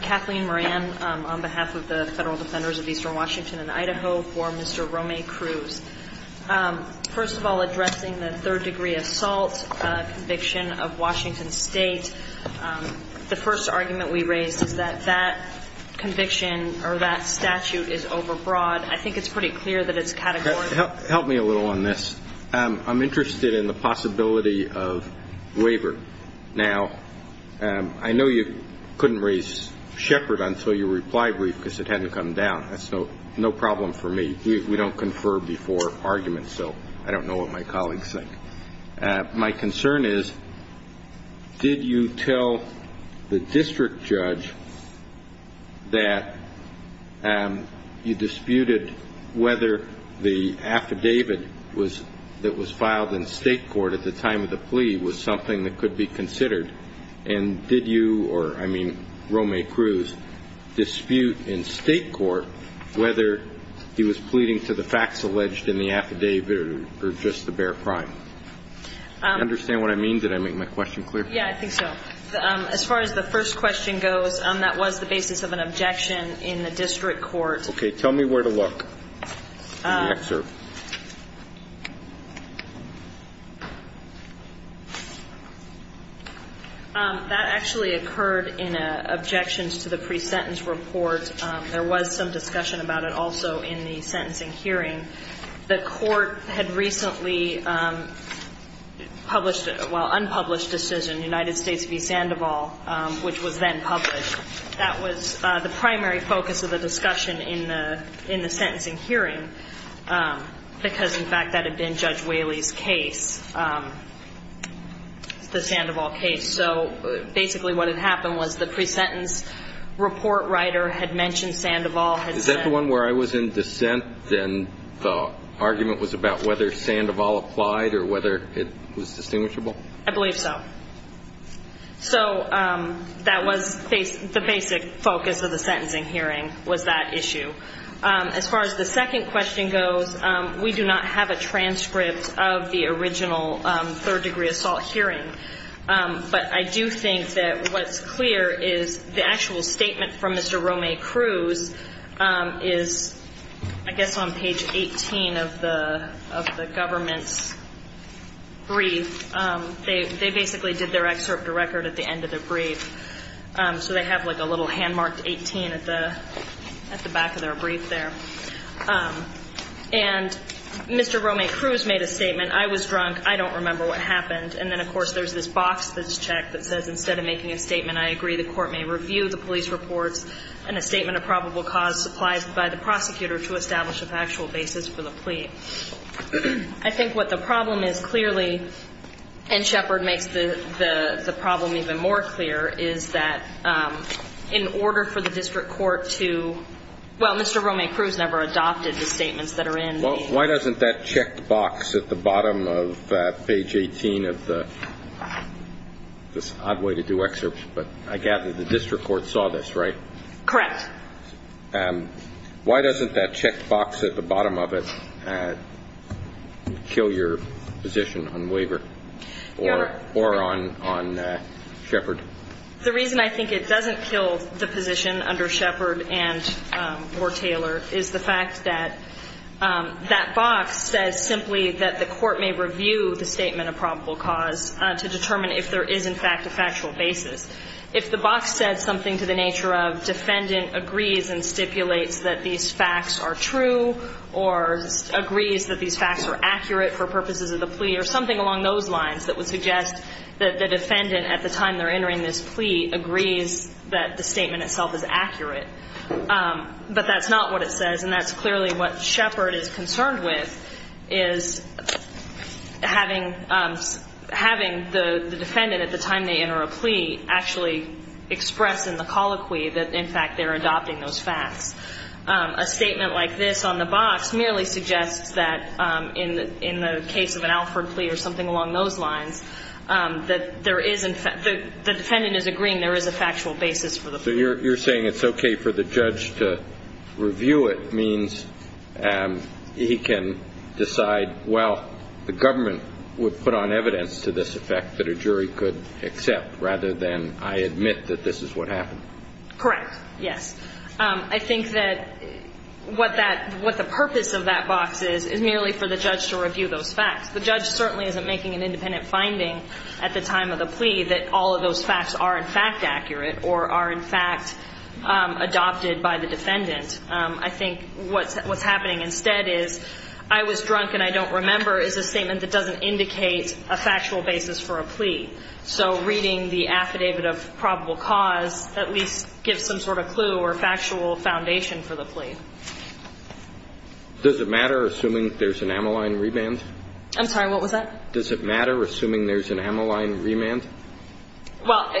Kathleen Moran on behalf of the Federal Defenders of Eastern Washington and Idaho for Mr. Romay-Cruz. First of all, addressing the third degree assault conviction of Washington State, the first argument we raised is that that conviction or that statute is overbroad. I think it's pretty clear that it's categorical. Help me a little on this. I'm interested in the possibility of waiver. Now, I know you couldn't raise Shepard until your reply brief because it hadn't come down. That's no problem for me. We don't confer before arguments, so I don't know what my colleagues think. My concern is, did you tell the district judge that you disputed whether the affidavit that was filed in state court at the time of the plea was something that could be considered? And did you or, I mean, Romay-Cruz dispute in state court whether he was pleading to the facts alleged in the affidavit or just the bare crime? Do you understand what I mean? Did I make my question clear? Yeah, I think so. As far as the first question goes, that was the basis of an objection in the district court. Okay. Tell me where to look in the excerpt. That actually occurred in an objections to the pre-sentence report. There was some discussion about it also in the sentencing hearing. The court had recently published, well, unpublished decision, United States v. Sandoval, which was then published. That was the primary focus of the discussion in the sentencing hearing. Because, in fact, that had been Judge Whaley's case, the Sandoval case. So basically what had happened was the pre-sentence report writer had mentioned Sandoval. Is that the one where I was in dissent and the argument was about whether Sandoval applied or whether it was distinguishable? I believe so. So that was the basic focus of the sentencing hearing was that issue. As far as the second question goes, we do not have a transcript of the original third-degree assault hearing. But I do think that what's clear is the actual statement from Mr. Romay Cruz is, I guess, on page 18 of the government's brief. They basically did their excerpt to record at the end of their brief. So they have, like, a little hand-marked 18 at the back of their brief there. And Mr. Romay Cruz made a statement, I was drunk, I don't remember what happened. And then, of course, there's this box that's checked that says instead of making a statement, I agree, the court may review the police reports. And a statement of probable cause applies by the prosecutor to establish a factual basis for the plea. I think what the problem is clearly, and Shepard makes the problem even more clear, is that in order for the district court to – well, Mr. Romay Cruz never adopted the statements that are in the brief. Well, why doesn't that checked box at the bottom of page 18 of the – this is an odd way to do excerpts, but I gather the district court saw this, right? Correct. Why doesn't that checked box at the bottom of it kill your position on Waiver or on Shepard? The reason I think it doesn't kill the position under Shepard and – or Taylor is the fact that that box says simply that the court may review the statement of probable cause to determine if there is, in fact, a factual basis. If the box said something to the nature of defendant agrees and stipulates that these facts are true or agrees that these facts are accurate for purposes of the plea or something along those lines that would suggest that the defendant, at the time they're entering this plea, agrees that the statement itself is accurate. But that's not what it says. And that's clearly what Shepard is concerned with, is having – having the defendant, at the time they enter a plea, actually express in the colloquy that, in fact, they're adopting those facts. A statement like this on the box merely suggests that in the case of an Alford plea or something along those lines, that there is – the defendant is agreeing there is a factual basis for the plea. So you're – you're saying it's okay for the judge to review it means he can decide, well, the government would put on evidence to this effect that a jury could accept rather than I admit that this is what happened. Correct. Yes. I think that what that – what the purpose of that box is is merely for the judge to review those facts. The judge certainly isn't making an independent finding at the time of the plea that all of those facts are, in fact, accurate or are, in fact, adopted by the defendant. I think what's – what's happening instead is I was drunk and I don't remember is a statement that doesn't indicate a factual basis for a plea. So reading the affidavit of probable cause at least gives some sort of clue or factual foundation for the plea. Does it matter, assuming there's an amyline reband? I'm sorry, what was that? Does it matter, assuming there's an amyline remand? Well,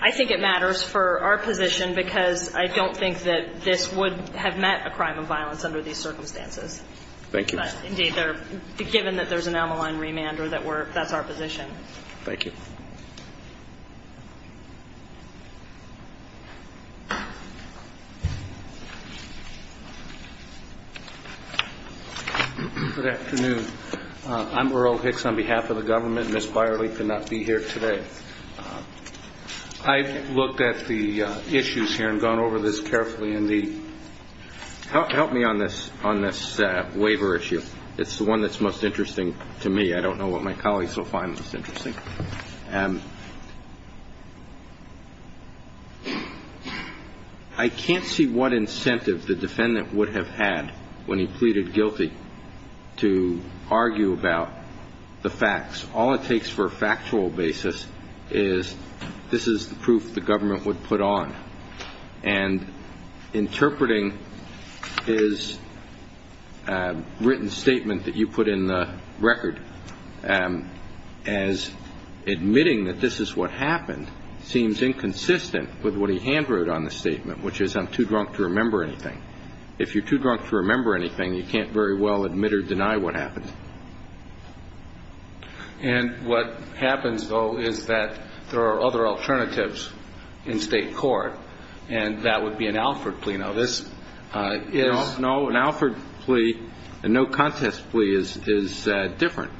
I think it matters for our position because I don't think that this would have met a crime of violence under these circumstances. Thank you. Indeed, they're – given that there's an amyline remand or that we're – that's our position. Thank you. Good afternoon. I'm Earl Hicks on behalf of the government. Ms. Byerly could not be here today. I've looked at the issues here and gone over this carefully in the – help me on this waiver issue. It's the one that's most interesting to me. I can't see what incentive the defendant would have had when he pleaded guilty to argue about the facts. All it takes for a factual basis is this is the proof the government would put on. And interpreting his written statement that you put in the record as admitting that this is what happened seems inconsistent with what he handwrote on the statement, which is I'm too drunk to remember anything. If you're too drunk to remember anything, you can't very well admit or deny what happened. And what happens, though, is that there are other alternatives in state court, and that would be an Alford plea. Now, this is – No, an Alford plea and no contest plea is different.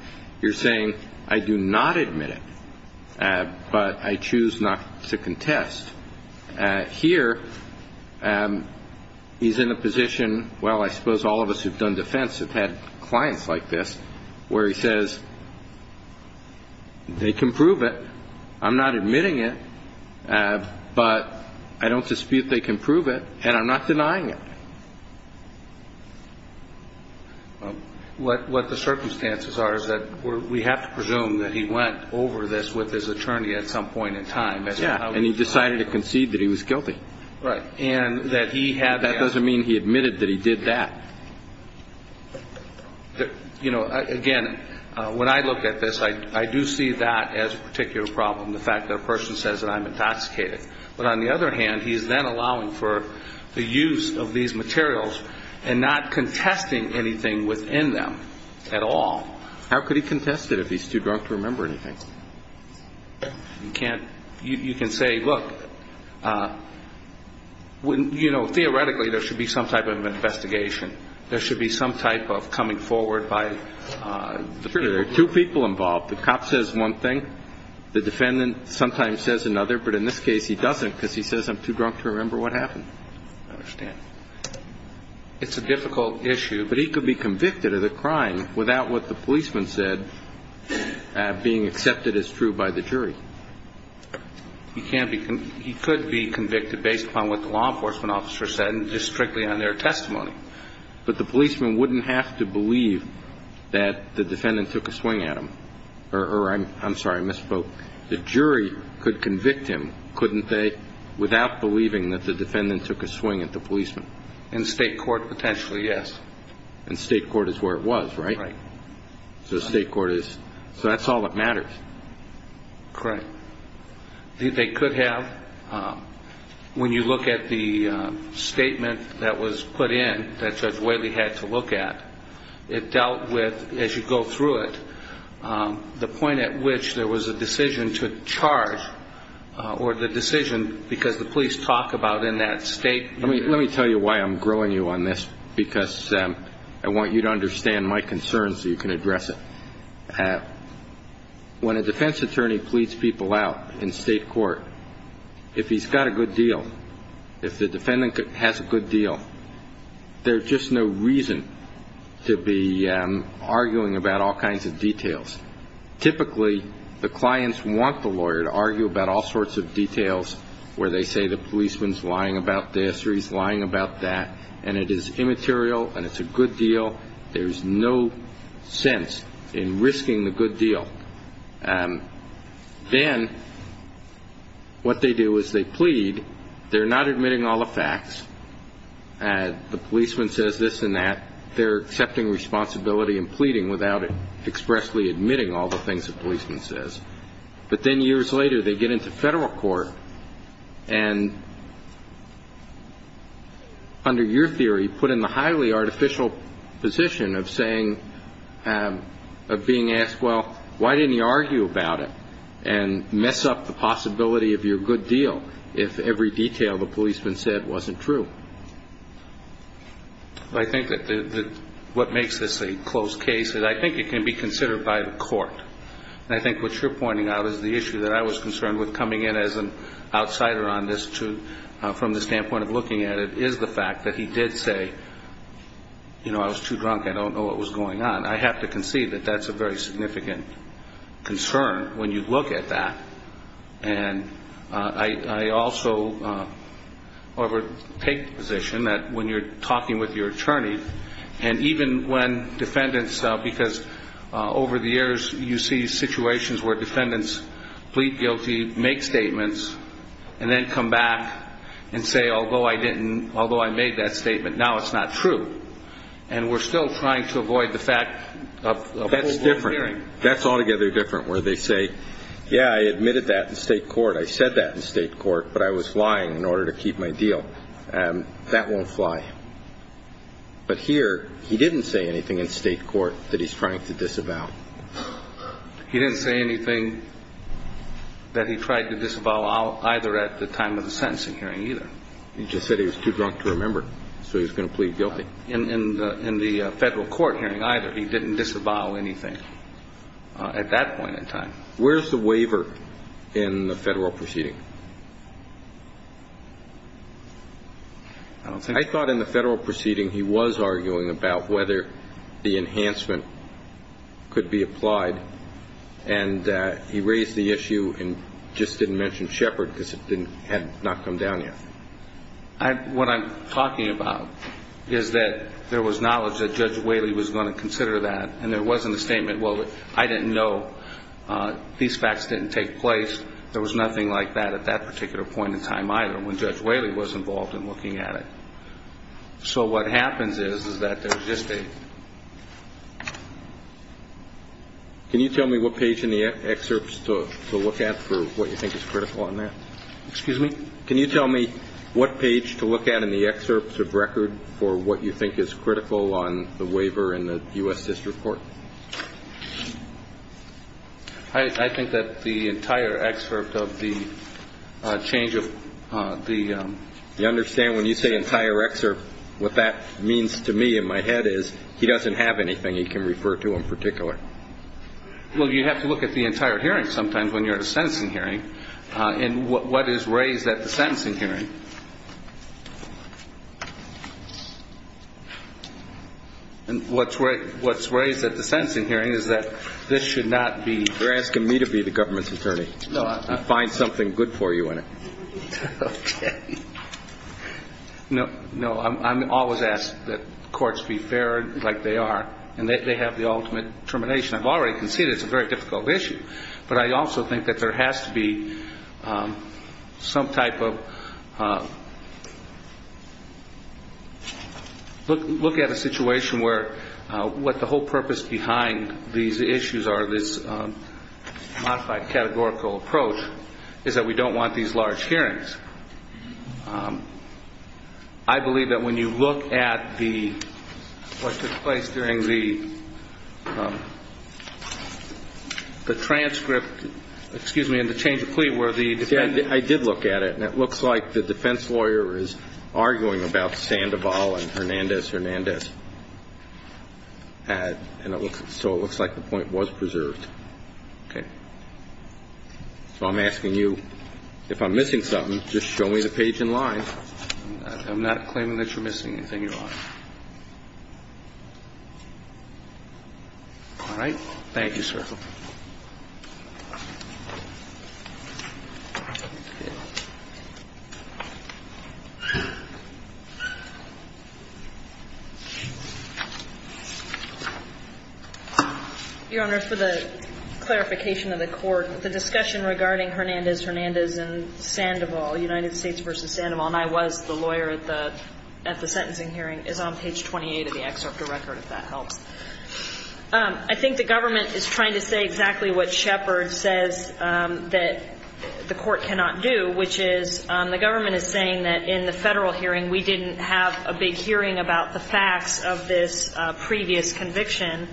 You're saying I do not admit it, but I choose not to contest. Here, he's in a position, well, I suppose all of us who've done defense have had clients like this, where he says they can prove it, I'm not admitting it, but I don't dispute they can prove it, and I'm not denying it. What the circumstances are is that we have to presume that he went over this with his attorney at some point in time. Yeah, and he decided to concede that he was guilty. Right. And that he had – That doesn't mean he admitted that he did that. You know, again, when I look at this, I do see that as a particular problem, the fact that a person says that I'm intoxicated. But on the other hand, he's then allowing for the use of these materials and not contesting anything within them at all. How could he contest it if he's too drunk to remember anything? You can't – you can say, look, you know, theoretically, there should be some type of investigation. There should be some type of coming forward by – Sure, there are two people involved. The cop says one thing, the defendant sometimes says another, but in this case, he doesn't, because he says I'm too drunk to remember what happened. I understand. It's a difficult issue. But he could be convicted of the crime without what the policeman said being accepted as true by the jury. He can't be – he could be convicted based upon what the law enforcement officer said and just strictly on their testimony. But the policeman wouldn't have to believe that the defendant took a swing at him. Or I'm sorry, I misspoke. The jury could convict him, couldn't they, without believing that the defendant took a swing at the policeman? In state court, potentially, yes. In state court is where it was, right? Right. So state court is – so that's all that matters. Correct. They could have – when you look at the statement that was put in that Judge Whaley had to look at, it dealt with, as you go through it, the point at which there was a decision to charge or the decision because the police talk about in that state. Let me tell you why I'm growing you on this, because I want you to understand my concerns so you can address it. When a defense attorney pleads people out in state court, if he's got a good deal, if the defendant has a good deal, there's just no reason to be arguing about all kinds of details. Typically, the clients want the lawyer to argue about all sorts of details where they say the policeman's lying about this or he's lying about that, and it is immaterial and it's a good deal. There's no sense in risking the good deal. Then what they do is they plead. They're not admitting all the facts. The policeman says this and that. They're accepting responsibility and pleading without expressly admitting all the things the policeman says. But then years later, they get into federal court and, under your theory, you put in the highly artificial position of being asked, well, why didn't you argue about it and mess up the possibility of your good deal if every detail the policeman said wasn't true? I think that what makes this a closed case is I think it can be considered by the court. And I think what you're pointing out is the issue that I was concerned with coming in as an outsider on this, from the standpoint of looking at it, is the fact that he did say, you know, I was too drunk. I don't know what was going on. I have to concede that that's a very significant concern when you look at that. And I also overtake the position that when you're talking with your attorney, and even when defendants, because over the years you see situations where defendants plead guilty, make statements, and then come back and say, although I didn't, although I made that statement, now it's not true. And we're still trying to avoid the fact of a full court hearing. That's different. That's altogether different where they say, yeah, I admitted that in state court. I said that in state court, but I was lying in order to keep my deal. That won't fly. But here he didn't say anything in state court that he's trying to disavow. He didn't say anything that he tried to disavow either at the time of the sentencing hearing either. He just said he was too drunk to remember, so he was going to plead guilty. In the Federal court hearing either. He didn't disavow anything at that point in time. Where's the waiver in the Federal proceeding? I don't think. He was arguing about whether the enhancement could be applied, and he raised the issue and just didn't mention Shepard because it had not come down yet. What I'm talking about is that there was knowledge that Judge Whaley was going to consider that, and there wasn't a statement, well, I didn't know. These facts didn't take place. There was nothing like that at that particular point in time either when Judge Whaley was involved in looking at it. So what happens is that there's just a. Can you tell me what page in the excerpts to look at for what you think is critical on that? Excuse me? Can you tell me what page to look at in the excerpts of record for what you think is critical on the waiver in the U.S. District Court? I think that the entire excerpt of the change of the. You understand when you say entire excerpt, what that means to me in my head is he doesn't have anything he can refer to in particular. Well, you have to look at the entire hearing sometimes when you're in a sentencing hearing. And what is raised at the sentencing hearing? And what's raised at the sentencing hearing is that this should not be. You're asking me to be the government's attorney. No. I find something good for you in it. OK. No. No. I'm always asked that courts be fair like they are, and that they have the ultimate determination. I've already conceded it's a very difficult issue. But I also think that there has to be some type of look at a situation where what the whole purpose behind these issues are, this modified categorical approach, is that we don't want these large hearings. I believe that when you look at what took place during the transcript, excuse me, in the change of plea where the defense. I did look at it, and it looks like the defense lawyer is arguing about Sandoval and Hernandez-Hernandez. And so it looks like the point was preserved. OK. So I'm asking you, if I'm missing something, just show me the page in line. I'm not claiming that you're missing anything, Your Honor. All right? Thank you, sir. Your Honor, for the clarification of the court, the discussion regarding Hernandez-Hernandez and Sandoval, United States v. Sandoval, and I was the lawyer at the sentencing hearing, is on page 28 of the excerpt of the record, if that helps. I think the government is trying to say that Sandoval and Hernandez, I would say exactly what Shepard says that the court cannot do, which is the government is saying that in the federal hearing we didn't have a big hearing about the facts of this previous conviction.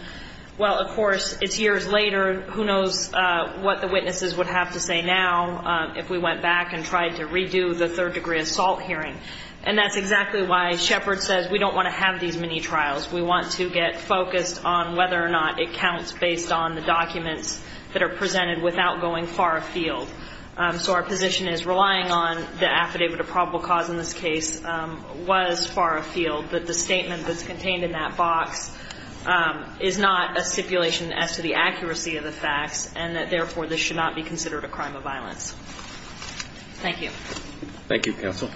Well, of course, it's years later. Who knows what the witnesses would have to say now if we went back and tried to redo the third-degree assault hearing. And that's exactly why Shepard says we don't want to have these mini-trials. We want to get focused on whether or not it counts based on the documents that are presented without going far afield. So our position is relying on the affidavit of probable cause in this case was far afield, but the statement that's contained in that box is not a stipulation as to the accuracy of the facts and that, therefore, this should not be considered a crime of violence. Thank you. Thank you, counsel.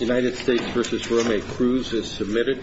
United States v. Romeo Cruz is submitted.